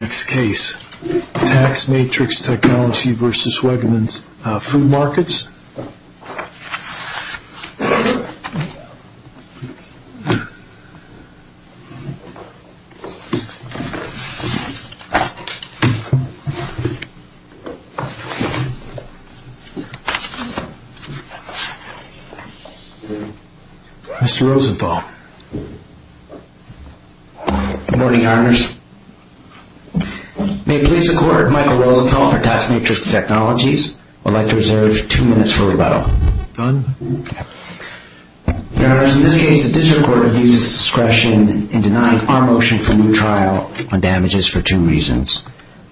Tax Matrix Technologies v. Wegmans Food Markets Mr. Rosenthal Good morning, your honors. May it please the court, Michael Rosenthal for Tax Matrix Technologies would like to reserve two minutes for rebuttal. Done. Your honors, in this case the district court abuses discretion in denying our motion for a new trial on damages for two reasons.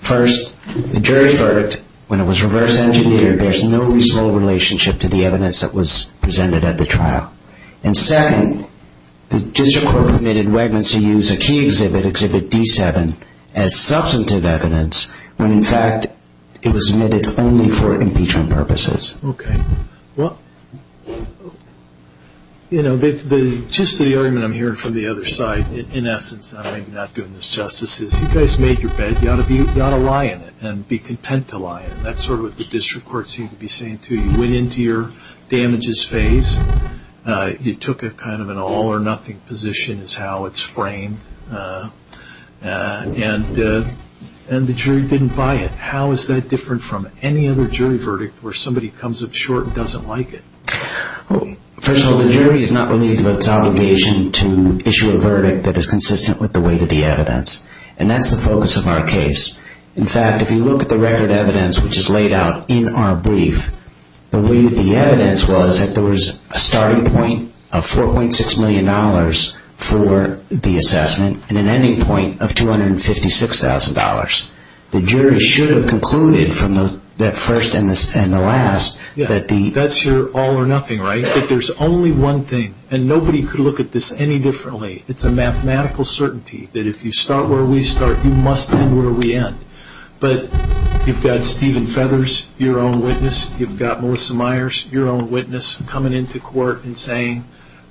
First, the jury's verdict, when it was reverse engineered, bears no reasonable relationship to the evidence that was presented at the trial. And second, the district court permitted Wegmans to use a key exhibit, exhibit D7, as substantive evidence when in fact it was omitted only for impeachment purposes. Okay. Well, you know, the gist of the argument I'm hearing from the other side, in essence, I'm not doing this justice, is you guys made your bed, you ought to lie in it and be content to lie in it. That's sort of what the district court seemed to be saying to you. You went into your damages phase, you took a kind of an all or nothing position is how it's framed, and the jury didn't buy it. How is that different from any other jury verdict where somebody comes up short and doesn't like it? First of all, the jury is not relieved of its obligation to issue a verdict that is consistent with the weight of the evidence, and that's the focus of our case. In fact, if you look at the record evidence which is laid out in our brief, the weight of the evidence was that there was a starting point of $4.6 million for the assessment and an ending point of $256,000. The jury should have concluded from that first and the last that the... But you've got Stephen Feathers, your own witness, you've got Melissa Myers, your own witness, coming into court and saying,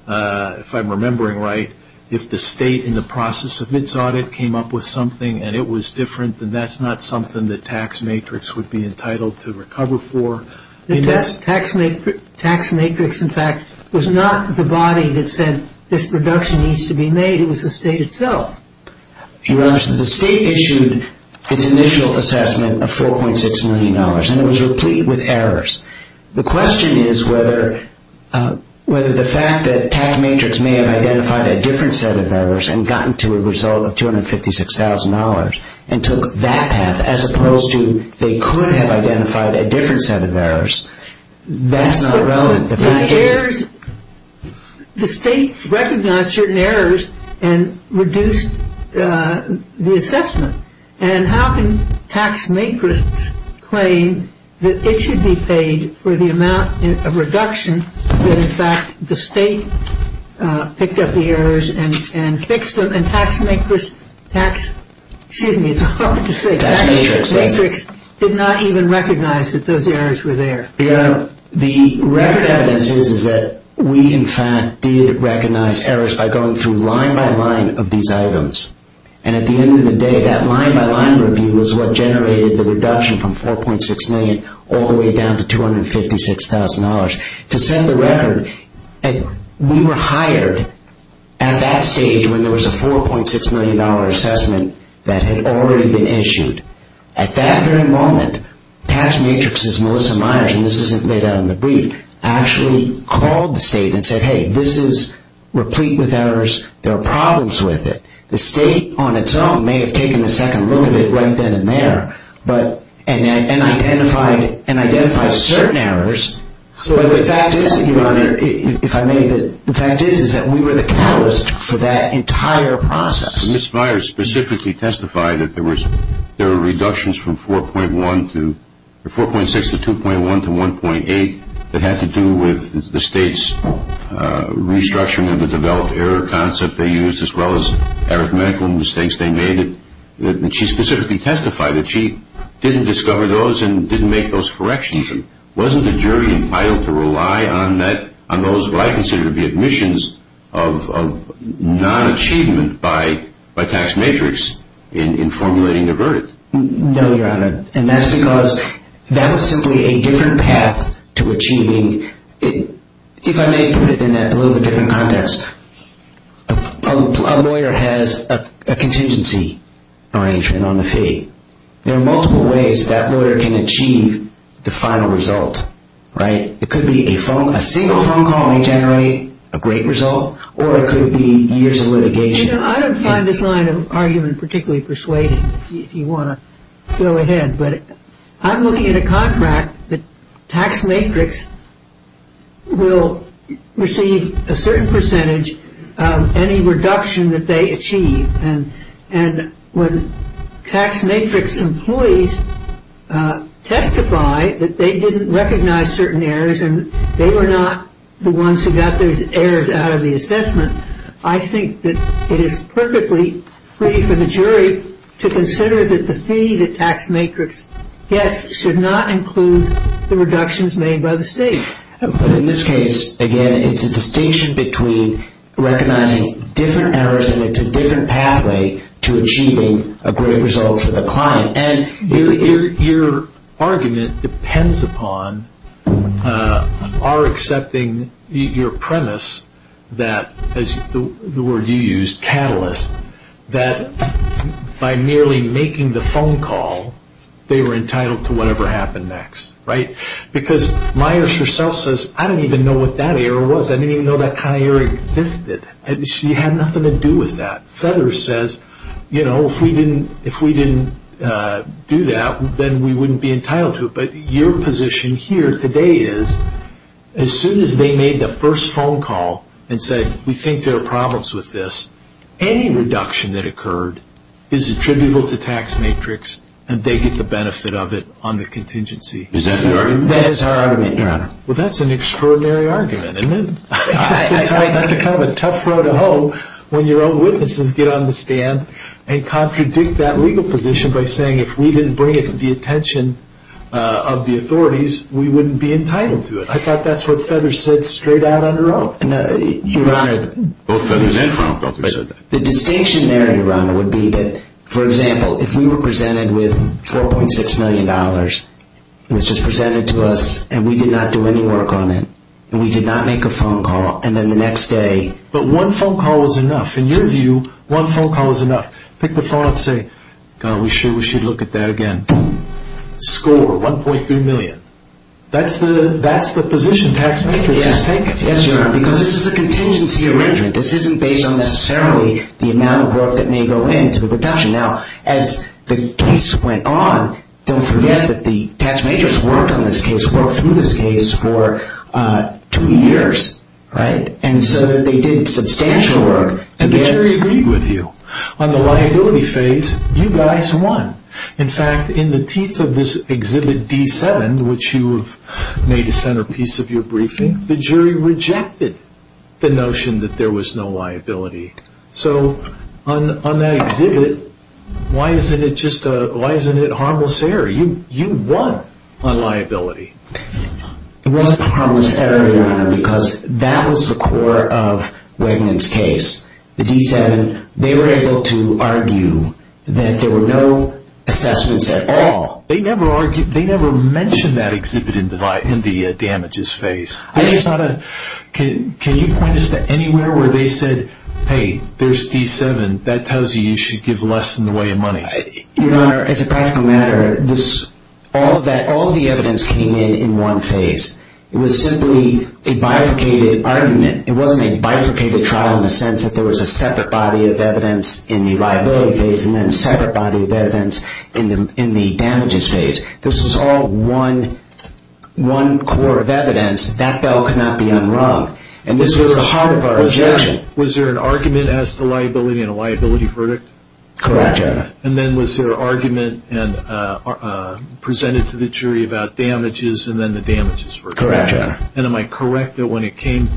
if I'm remembering right, if the state in the process of its audit came up with something and it was different, then that's not something the tax matrix would be entitled to recover for. The tax matrix, in fact, was not the body that said this reduction needs to be made, it was the state itself. Your Honor, the state issued its initial assessment of $4.6 million and it was replete with errors. The question is whether the fact that tax matrix may have identified a different set of errors and gotten to a result of $256,000 and took that path as opposed to they could have identified a different set of errors, that's not relevant. The state recognized certain errors and reduced the assessment. And how can tax matrix claim that it should be paid for the amount of reduction that, in fact, the state picked up the errors and fixed them and tax matrix did not even recognize that those errors were there. Your Honor, the record evidence is that we, in fact, did recognize errors by going through line by line of these items. And at the end of the day, that line by line review was what generated the reduction from $4.6 million all the way down to $256,000. To set the record, we were hired at that stage when there was a $4.6 million assessment that had already been issued. At that very moment, tax matrix's Melissa Myers, and this isn't laid out in the brief, actually called the state and said, hey, this is replete with errors. There are problems with it. The state on its own may have taken a second look at it right then and there and identified certain errors. But the fact is, Your Honor, if I may, the fact is that we were the catalyst for that entire process. Ms. Myers specifically testified that there were reductions from $4.6 to $2.1 to $1.8 that had to do with the state's restructuring of the developed error concept they used as well as arithmetical mistakes they made. She specifically testified that she didn't discover those and didn't make those corrections. Wasn't the jury entitled to rely on those what I consider to be admissions of non-achievement by tax matrix in formulating the verdict? No, Your Honor, and that's because that was simply a different path to achieving. If I may put it in that a little bit different context, a lawyer has a contingency arrangement on the fee. There are multiple ways that lawyer can achieve the final result, right? It could be a single phone call may generate a great result, or it could be years of litigation. You know, I don't find this line of argument particularly persuading if you want to go ahead. But I'm looking at a contract that tax matrix will receive a certain percentage of any reduction that they achieve. And when tax matrix employees testify that they didn't recognize certain errors and they were not the ones who got those errors out of the assessment, I think that it is perfectly free for the jury to consider that the fee that tax matrix gets should not include the reductions made by the state. But in this case, again, it's a distinction between recognizing different errors and it's a different pathway to achieving a great result for the client. And your argument depends upon our accepting your premise that, as the word you used, catalyst, that by merely making the phone call, they were entitled to whatever happened next, right? Because Myers herself says, I don't even know what that error was. I didn't even know that kind of error existed. She had nothing to do with that. Fetters says, you know, if we didn't do that, then we wouldn't be entitled to it. But your position here today is, as soon as they made the first phone call and said, we think there are problems with this, any reduction that occurred is attributable to tax matrix and they get the benefit of it on the contingency. Is that the argument? That is our argument, Your Honor. Well, that's an extraordinary argument, isn't it? That's a kind of a tough road to hoe when your own witnesses get on the stand and contradict that legal position by saying, if we didn't bring it to the attention of the authorities, we wouldn't be entitled to it. I thought that's what Fetters said straight out on her own. Your Honor, both Fetters and Fraunhofer said that. The distinction there, Your Honor, would be that, for example, if we were presented with $4.6 million, and it was just presented to us and we did not do any work on it, and we did not make a phone call, and then the next day... But one phone call was enough. In your view, one phone call was enough. Pick the phone up and say, God, we should look at that again. Score, $1.3 million. That's the position tax matrix has taken. Yes, Your Honor, because this is a contingency arrangement. This isn't based on necessarily the amount of work that may go into the production. Now, as the case went on, don't forget that the tax majors worked on this case, worked through this case for two years, right? And so they did substantial work. And the jury agreed with you. On the liability phase, you guys won. In fact, in the teeth of this Exhibit D7, which you have made a centerpiece of your briefing, the jury rejected the notion that there was no liability. So, on that exhibit, why isn't it harmless error? You won on liability. It wasn't harmless error, Your Honor, because that was the core of Wegman's case. The D7, they were able to argue that there were no assessments at all. They never mentioned that exhibit in the damages phase. Can you point us to anywhere where they said, hey, there's D7, that tells you you should give less in the way of money? Your Honor, as a practical matter, all of the evidence came in in one phase. It was simply a bifurcated argument. It wasn't a bifurcated trial in the sense that there was a separate body of evidence in the liability phase and then a separate body of evidence in the damages phase. This was all one core of evidence. That bill could not be unwrung. This was the heart of our objection. Was there an argument as to liability and a liability verdict? Correct, Your Honor. Then was there an argument presented to the jury about damages and then the damages verdict? Correct, Your Honor. Am I correct that when it came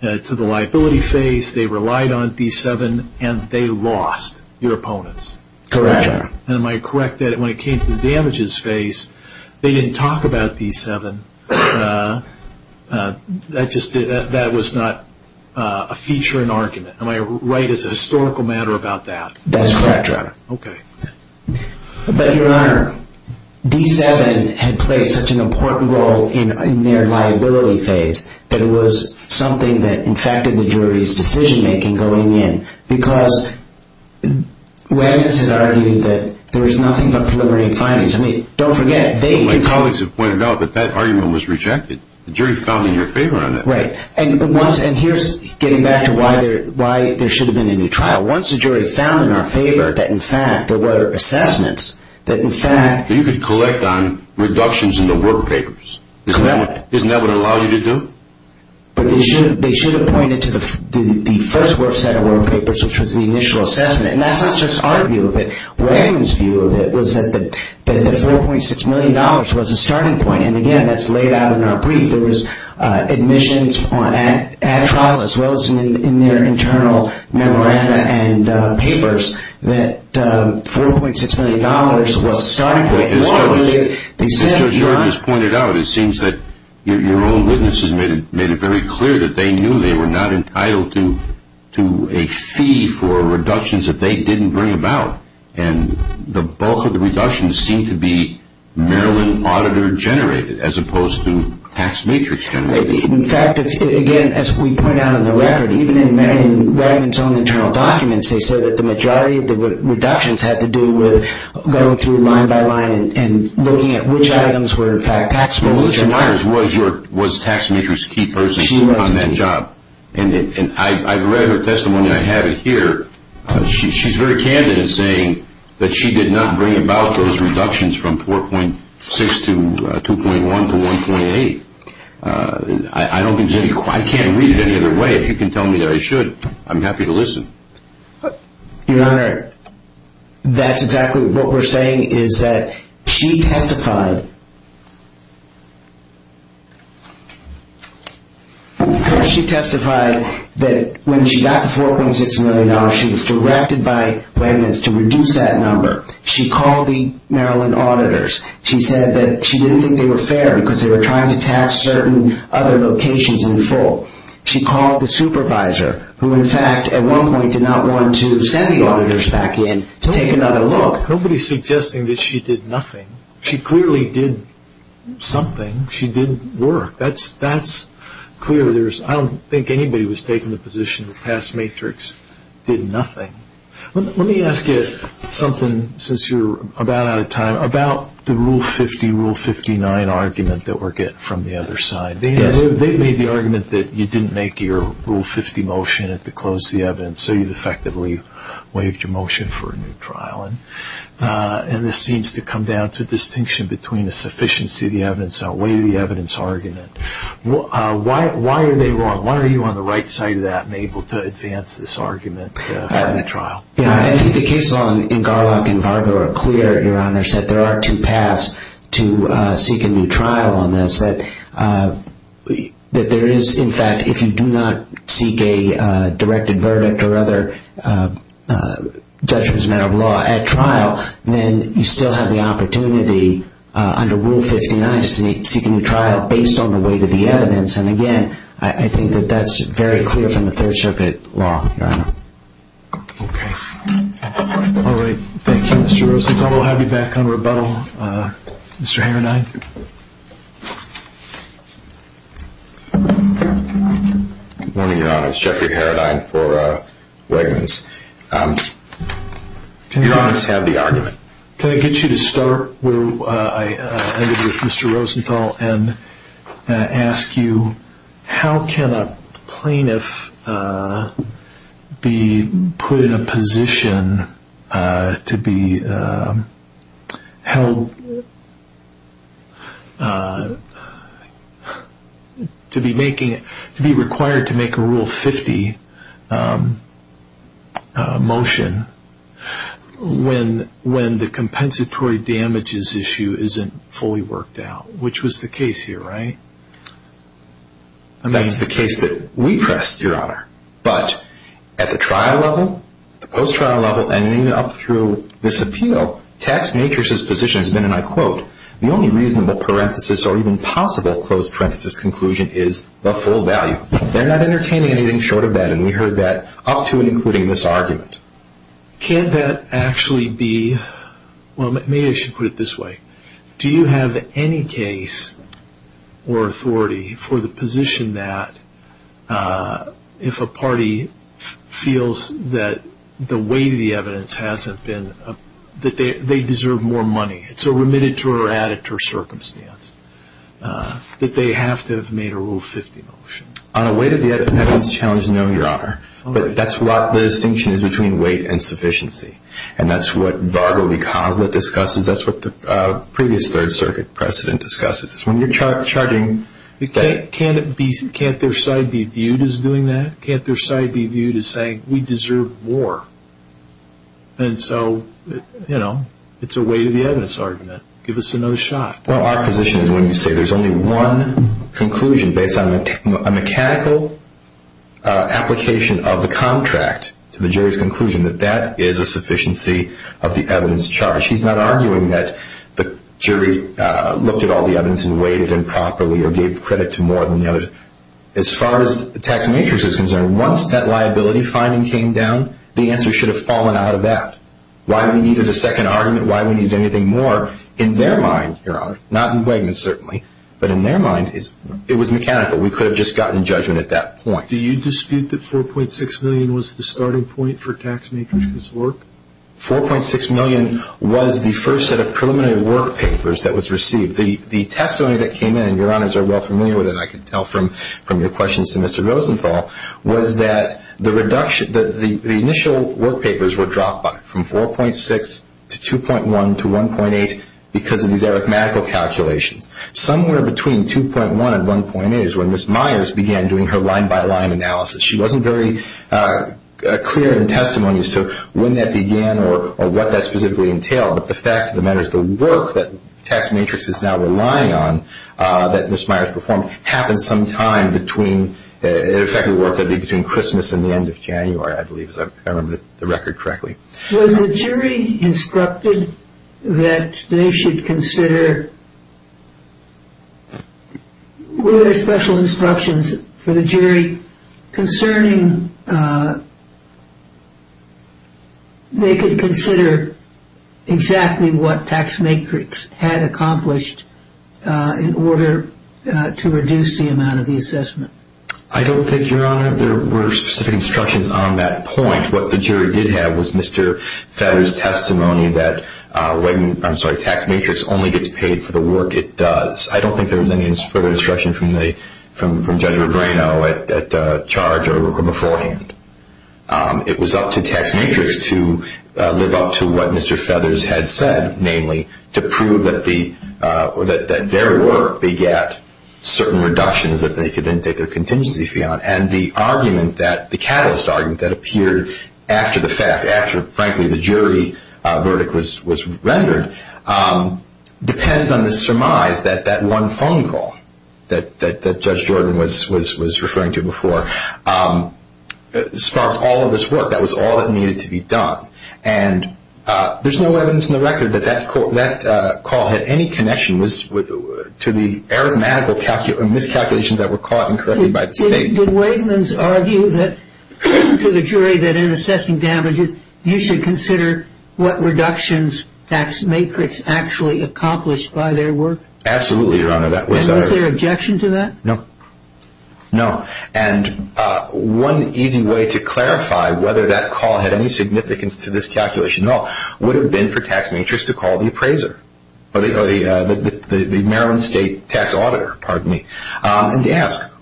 to the liability phase, they relied on D7 and they lost your opponents? Correct, Your Honor. Am I correct that when it came to the damages phase, they didn't talk about D7? That was not a feature in argument. Am I right as a historical matter about that? That's correct, Your Honor. Okay. But, Your Honor, D7 had played such an important role in their liability phase that it was something that infected the jury's decision-making going in because remnants had argued that there was nothing but preliminary findings. I mean, don't forget. My colleagues have pointed out that that argument was rejected. The jury found in your favor on that. Right. And here's getting back to why there should have been a new trial. Once the jury found in our favor that, in fact, there were assessments that, in fact... You could collect on reductions in the work papers. Correct. Isn't that what it would allow you to do? But they should have pointed to the first work set of work papers, which was the initial assessment. And that's not just our view of it. Raymond's view of it was that the $4.6 million was a starting point. And, again, that's laid out in our brief. There was admissions at trial, as well as in their internal memoranda and papers, that $4.6 million was a starting point. As Judge Jordan has pointed out, it seems that your own witnesses made it very clear that they knew they were not entitled to a fee for reductions that they didn't bring about. And the bulk of the reductions seemed to be Maryland auditor-generated, as opposed to tax matrix-generated. In fact, again, as we point out in the record, even in Raymond's own internal documents, they said that the majority of the reductions had to do with going through line by line and looking at which items were, in fact, taxable. Melissa Myers was tax matrix key person on that job. And I've read her testimony. I have it here. She's very candid in saying that she did not bring about those reductions from $4.6 to $2.1 to $1.8. I can't read it any other way. You can tell me that I should. I'm happy to listen. Your Honor, that's exactly what we're saying, is that she testified. She testified that when she got the $4.6 million, she was directed by Raymond's to reduce that number. She called the Maryland auditors. She said that she didn't think they were fair because they were trying to tax certain other locations in full. She called the supervisor, who, in fact, at one point did not want to send the auditors back in to take another look. Nobody's suggesting that she did nothing. She clearly did something. She did work. That's clear. I don't think anybody was taking the position that tax matrix did nothing. Let me ask you something, since you're about out of time, about the Rule 50, Rule 59 argument that we're getting from the other side. They made the argument that you didn't make your Rule 50 motion to close the evidence, so you defectively waived your motion for a new trial. And this seems to come down to a distinction between a sufficiency of the evidence outweighed the evidence argument. Why are they wrong? Why are you on the right side of that and able to advance this argument for a new trial? I think the case law in Garlock and Vargo are clear, Your Honor, that there are two paths to seek a new trial on this, that there is, in fact, if you do not seek a directed verdict or other judgment as a matter of law at trial, then you still have the opportunity under Rule 59 to seek a new trial based on the weight of the evidence. And, again, I think that that's very clear from the Third Circuit law, Your Honor. Okay. All right. Thank you, Mr. Rosenthal. We'll have you back on rebuttal. Mr. Heronine? Good morning, Your Honor. It's Jeffrey Heronine for Wegmans. Your Honors, have the argument. Can I get you to start where I ended with Mr. Rosenthal and ask you how can a plaintiff be put in a position to be held to be required to make a Rule 50 motion when the compensatory damages issue isn't fully worked out? Which was the case here, right? That's the case that we pressed, Your Honor. But at the trial level, the post-trial level, and even up through this appeal, tax makers' position has been, and I quote, the only reasonable parenthesis or even possible closed parenthesis conclusion is the full value. They're not entertaining anything short of that, and we heard that up to and including this argument. Can't that actually be – well, maybe I should put it this way. Do you have any case or authority for the position that if a party feels that the weight of the evidence hasn't been – that they deserve more money, it's a remitted to or added to circumstance, that they have to have made a Rule 50 motion? On a weight of the evidence challenge, no, Your Honor. But that's what the distinction is between weight and sufficiency. And that's what Vargo v. Coslett discusses. That's what the previous Third Circuit precedent discusses. When you're charging – Can't their side be viewed as doing that? Can't their side be viewed as saying, we deserve more? And so, you know, it's a weight of the evidence argument. Give us another shot. Well, our position is when you say there's only one conclusion based on a mechanical application of the contract to the jury's conclusion, that that is a sufficiency of the evidence charge. He's not arguing that the jury looked at all the evidence and weighed it in properly or gave credit to more than the others. As far as the tax matrix is concerned, once that liability finding came down, the answer should have fallen out of that. Why we needed a second argument, why we needed anything more, in their mind, Your Honor, not in Wegman's certainly, but in their mind, it was mechanical. We could have just gotten judgment at that point. Do you dispute that $4.6 million was the starting point for tax matrix work? $4.6 million was the first set of preliminary work papers that was received. The testimony that came in, and Your Honors are well familiar with it, I can tell from your questions to Mr. Rosenthal, was that the initial work papers were dropped by from 4.6 to 2.1 to 1.8 because of these arithmetical calculations. Somewhere between 2.1 and 1.8 is when Ms. Myers began doing her line-by-line analysis. She wasn't very clear in testimony as to when that began or what that specifically entailed, but the fact of the matter is the work that tax matrix is now relying on that Ms. Myers performed happened sometime between, it effectively worked out to be between Christmas and the end of January, I believe, if I remember the record correctly. Was the jury instructed that they should consider, were there special instructions for the jury concerning they could consider exactly what tax matrix had accomplished in order to reduce the amount of the assessment? I don't think, Your Honor, there were specific instructions on that point. What the jury did have was Mr. Feather's testimony that when, I'm sorry, tax matrix only gets paid for the work it does. I don't think there was any further instruction from Judge Regreno at charge or beforehand. It was up to tax matrix to live up to what Mr. Feathers had said, namely, to prove that their work begat certain reductions that they could then take their contingency fee on. And the argument that, the catalyst argument that appeared after the fact, after, frankly, the jury verdict was rendered, depends on the surmise that that one phone call that Judge Jordan was referring to before sparked all of this work. That was all that needed to be done. And there's no evidence in the record that that call had any connection to the arithmetical miscalculations that were caught and corrected by the state. Did Waidman's argue to the jury that in assessing damages, you should consider what reductions tax matrix actually accomplished by their work? Absolutely, Your Honor. Was there objection to that? No. No. And one easy way to clarify whether that call had any significance to this calculation at all would have been for tax matrix to call the appraiser, or the Maryland State Tax Auditor, pardon me, and to ask,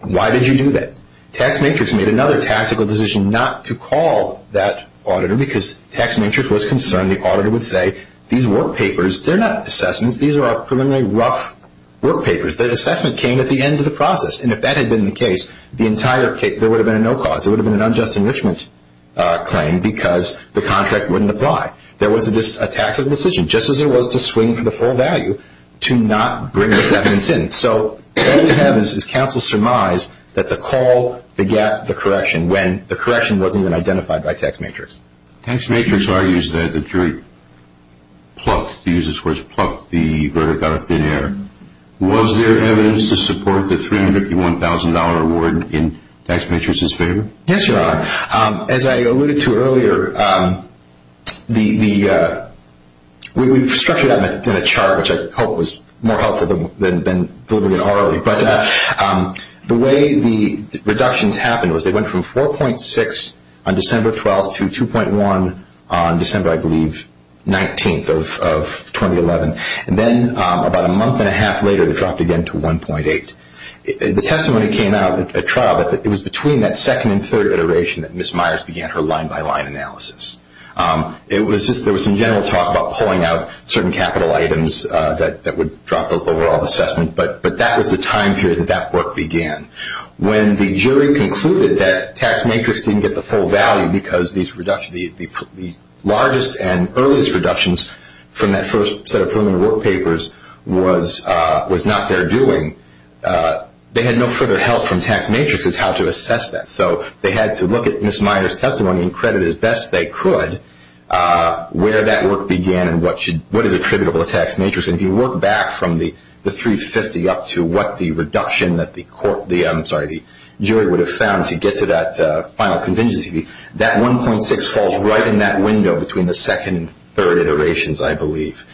why did you do that? Tax matrix made another tactical decision not to call that auditor because tax matrix was concerned the auditor would say, these work papers, they're not assessments, these are preliminary rough work papers. The assessment came at the end of the process. And if that had been the case, the entire case, there would have been a no cause. It would have been an unjust enrichment claim because the contract wouldn't apply. There was a tactical decision, just as there was to swing for the full value, to not bring this evidence in. So all you have is counsel's surmise that the call begat the correction when the correction wasn't even identified by tax matrix. Tax matrix argues that the jury plucked, to use this word, plucked the verdict out of thin air. Was there evidence to support the $351,000 award in tax matrix's favor? Yes, Your Honor. As I alluded to earlier, we've structured that in a chart, which I hope was more helpful than delivering it orally. But the way the reductions happened was they went from 4.6 on December 12th to 2.1 on December, I believe, 19th of 2011. And then about a month and a half later, they dropped again to 1.8. The testimony came out at trial that it was between that second and third iteration that Ms. Myers began her line-by-line analysis. There was some general talk about pulling out certain capital items that would drop the overall assessment. But that was the time period that that work began. When the jury concluded that tax matrix didn't get the full value because the largest and earliest reductions from that first set of preliminary work papers was not their doing, they had no further help from tax matrix as how to assess that. So they had to look at Ms. Myers' testimony and credit it as best they could where that work began and what is attributable to tax matrix. And if you look back from the 350 up to what the reduction that the jury would have found to get to that final contingency, that 1.6 falls right in that window between the second and third iterations, I believe.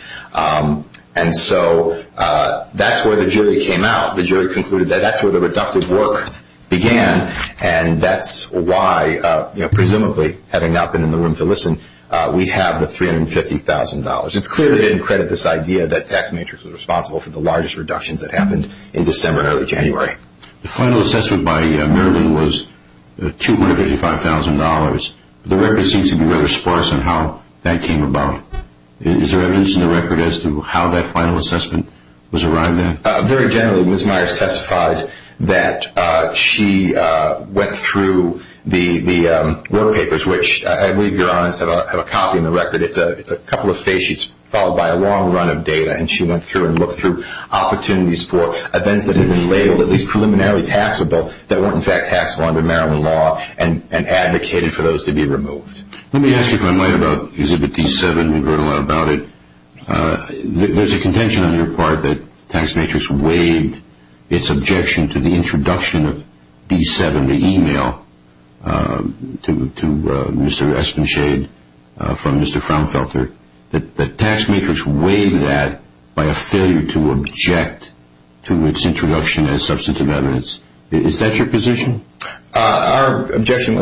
And so that's where the jury came out. The jury concluded that that's where the reductive work began. And that's why, presumably, having not been in the room to listen, we have the $350,000. It's clear they didn't credit this idea that tax matrix was responsible for the largest reductions that happened in December and early January. The final assessment by Marilyn was $255,000. The record seems to be rather sparse on how that came about. Is there evidence in the record as to how that final assessment was arrived at? Very generally, Ms. Myers testified that she went through the work papers, which I believe your honors have a copy in the record. It's a couple of face sheets followed by a long run of data. And she went through and looked through opportunities for events that had been labeled, at least preliminarily taxable, that weren't in fact taxable under Marilyn law and advocated for those to be removed. Let me ask you, if I might, about Exhibit D7. We've heard a lot about it. There's a contention on your part that tax matrix waived its objection to the introduction of D7, the e-mail, to Mr. Espenshade from Mr. Frownfelter. The tax matrix waived that by a failure to object to its introduction as substantive evidence. Is that your position? Our position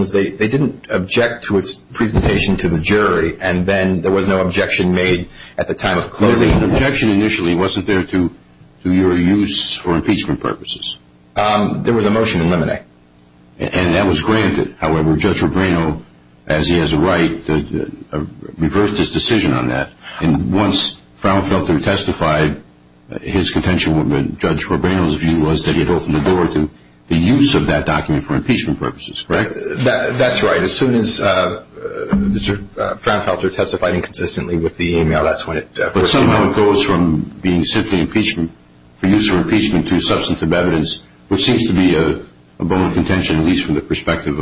was they didn't object to its presentation to the jury. And then there was no objection made at the time of closing. The objection initially wasn't there to your use for impeachment purposes. There was a motion to eliminate. And that was granted. However, Judge Rubino, as he has a right, reversed his decision on that. And once Frownfelter testified, his contention with Judge Rubino's view was that he had opened the door to the use of that document for impeachment purposes, correct? That's right. As soon as Mr. Frownfelter testified inconsistently with the e-mail, that's when it was removed. But somehow it goes from being simply for use for impeachment to substantive evidence, which seems to be a bone of contention, at least from the perspective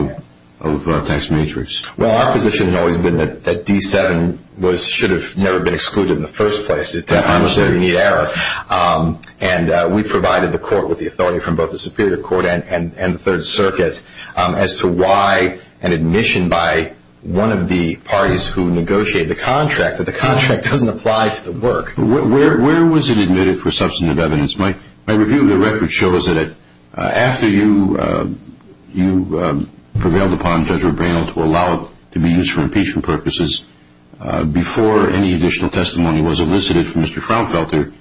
of tax matrix. Well, our position has always been that D7 should have never been excluded in the first place. It was a very neat error. And we provided the court with the authority from both the Superior Court and the Third Circuit as to why an admission by one of the parties who negotiated the contract, that the contract doesn't apply to the work. Where was it admitted for substantive evidence? My review of the record shows that after you prevailed upon Judge Rubino to allow it to be used for impeachment purposes, before any additional testimony was elicited from Mr. Frownfelter,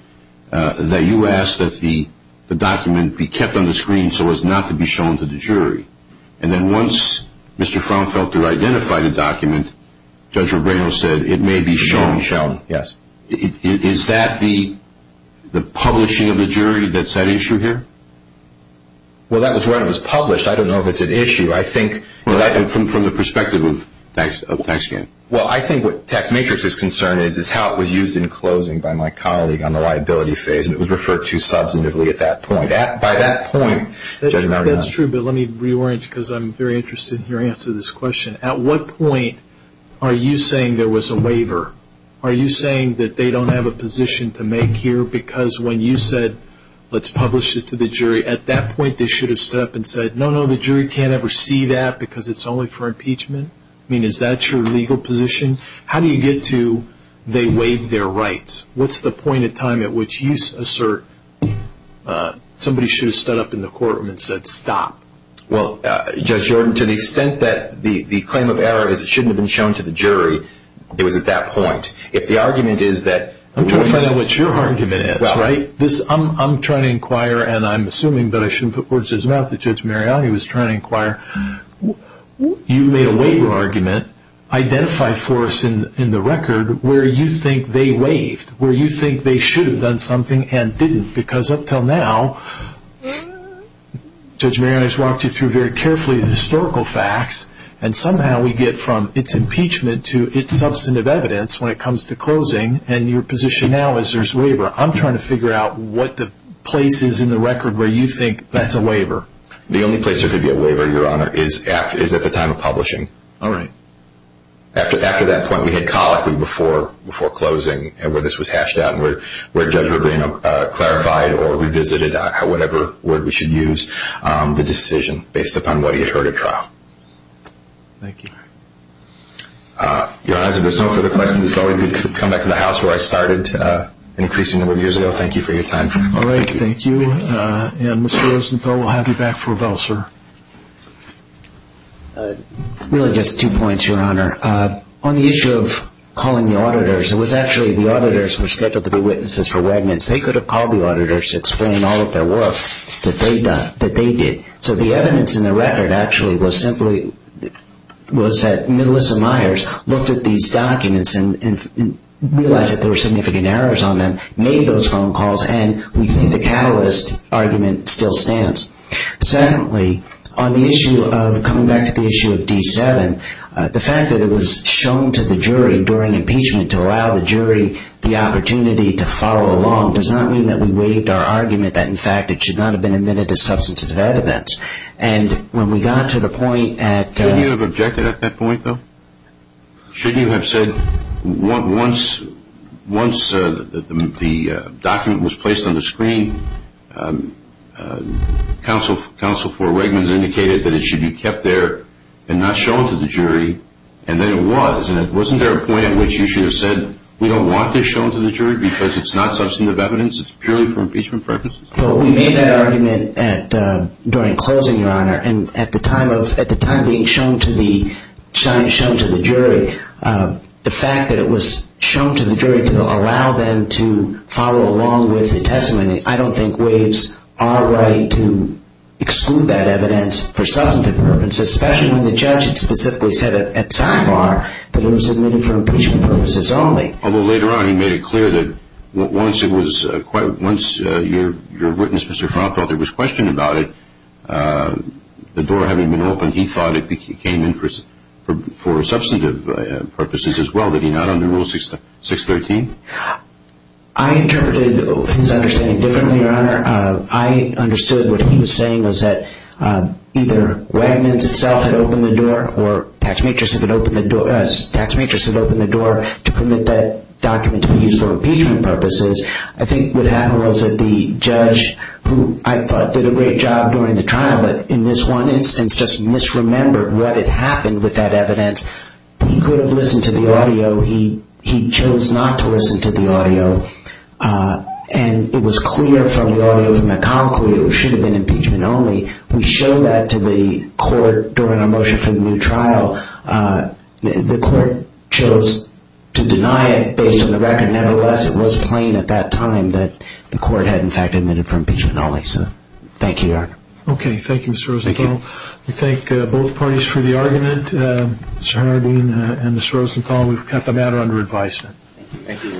that you asked that the document be kept on the screen so as not to be shown to the jury. And then once Mr. Frownfelter identified the document, Judge Rubino said, it may be shown, shall it? Yes. Is that the publishing of the jury that's at issue here? Well, that was when it was published. I don't know if it's an issue. I think from the perspective of tax gain. Well, I think what tax matrix is concerned is is how it was used in closing by my colleague on the liability phase. And it was referred to substantively at that point. By that point, Judge Marino. That's true. But let me reorient because I'm very interested in your answer to this question. At what point are you saying there was a waiver? Are you saying that they don't have a position to make here? Because when you said, let's publish it to the jury, at that point they should have stood up and said, no, no, the jury can't ever see that because it's only for impeachment? I mean, is that your legal position? How do you get to they waive their rights? What's the point in time at which you assert somebody should have stood up in the courtroom and said, stop? Well, Judge Jordan, to the extent that the claim of error is it shouldn't have been shown to the jury, it was at that point. If the argument is that. I'm trying to find out what your argument is, right? I'm trying to inquire and I'm assuming, but I shouldn't put words in his mouth, that Judge Marino was trying to inquire. You've made a waiver argument. Identify for us in the record where you think they waived, where you think they should have done something and didn't. Because up until now, Judge Marino has walked you through very carefully the historical facts. And somehow we get from its impeachment to its substantive evidence when it comes to closing. And your position now is there's waiver. I'm trying to figure out what the place is in the record where you think that's a waiver. The only place there could be a waiver, Your Honor, is at the time of publishing. All right. After that point, we had colloquy before closing where this was hashed out and where Judge Marino clarified or revisited whatever word we should use. The decision based upon what he had heard at trial. Thank you. Your Honor, if there's no further questions, it's always good to come back to the house where I started an increasing number of years ago. Thank you for your time. All right. Thank you. And Mr. Rosenthal, we'll have you back for a vote, sir. Really just two points, Your Honor. On the issue of calling the auditors, it was actually the auditors who were scheduled to be witnesses for Wegmans. They could have called the auditors to explain all of their work that they did. So the evidence in the record actually was simply was that Melissa Myers looked at these documents and realized that there were significant errors on them, made those phone calls, and we think the catalyst argument still stands. Secondly, on the issue of coming back to the issue of D7, the fact that it was shown to the jury during impeachment to allow the jury the opportunity to follow along does not mean that we waived our argument that, in fact, it should not have been admitted as substantive evidence. And when we got to the point at Shouldn't you have objected at that point, though? Shouldn't you have said once the document was placed on the screen, counsel for Wegmans indicated that it should be kept there and not shown to the jury, and then it was. And wasn't there a point at which you should have said, We don't want this shown to the jury because it's not substantive evidence, it's purely for impeachment purposes? Well, we made that argument during closing, Your Honor, and at the time being shown to the jury, the fact that it was shown to the jury to allow them to follow along with the testimony, I don't think waives our right to exclude that evidence for substantive purposes, especially when the judge had specifically said at sidebar that it was admitted for impeachment purposes only. Although later on he made it clear that once your witness, Mr. Froth, felt there was question about it, the door having been opened, he thought it came in for substantive purposes as well, that he not under Rule 613? I interpreted his understanding differently, Your Honor. I understood what he was saying was that either Wegmans itself had opened the door or Tax Matrix had opened the door to permit that document to be used for impeachment purposes. I think what happened was that the judge, who I thought did a great job during the trial, but in this one instance just misremembered what had happened with that evidence. He could have listened to the audio. He chose not to listen to the audio. And it was clear from the audio from the concrete it should have been impeachment only. We showed that to the court during our motion for the new trial. The court chose to deny it based on the record. Nevertheless, it was plain at that time that the court had in fact admitted for impeachment only. Thank you, Your Honor. Okay. Thank you, Mr. Rosenthal. Thank you. We thank both parties for the argument. Mr. Harding and Ms. Rosenthal, we've kept the matter under advisement. Thank you.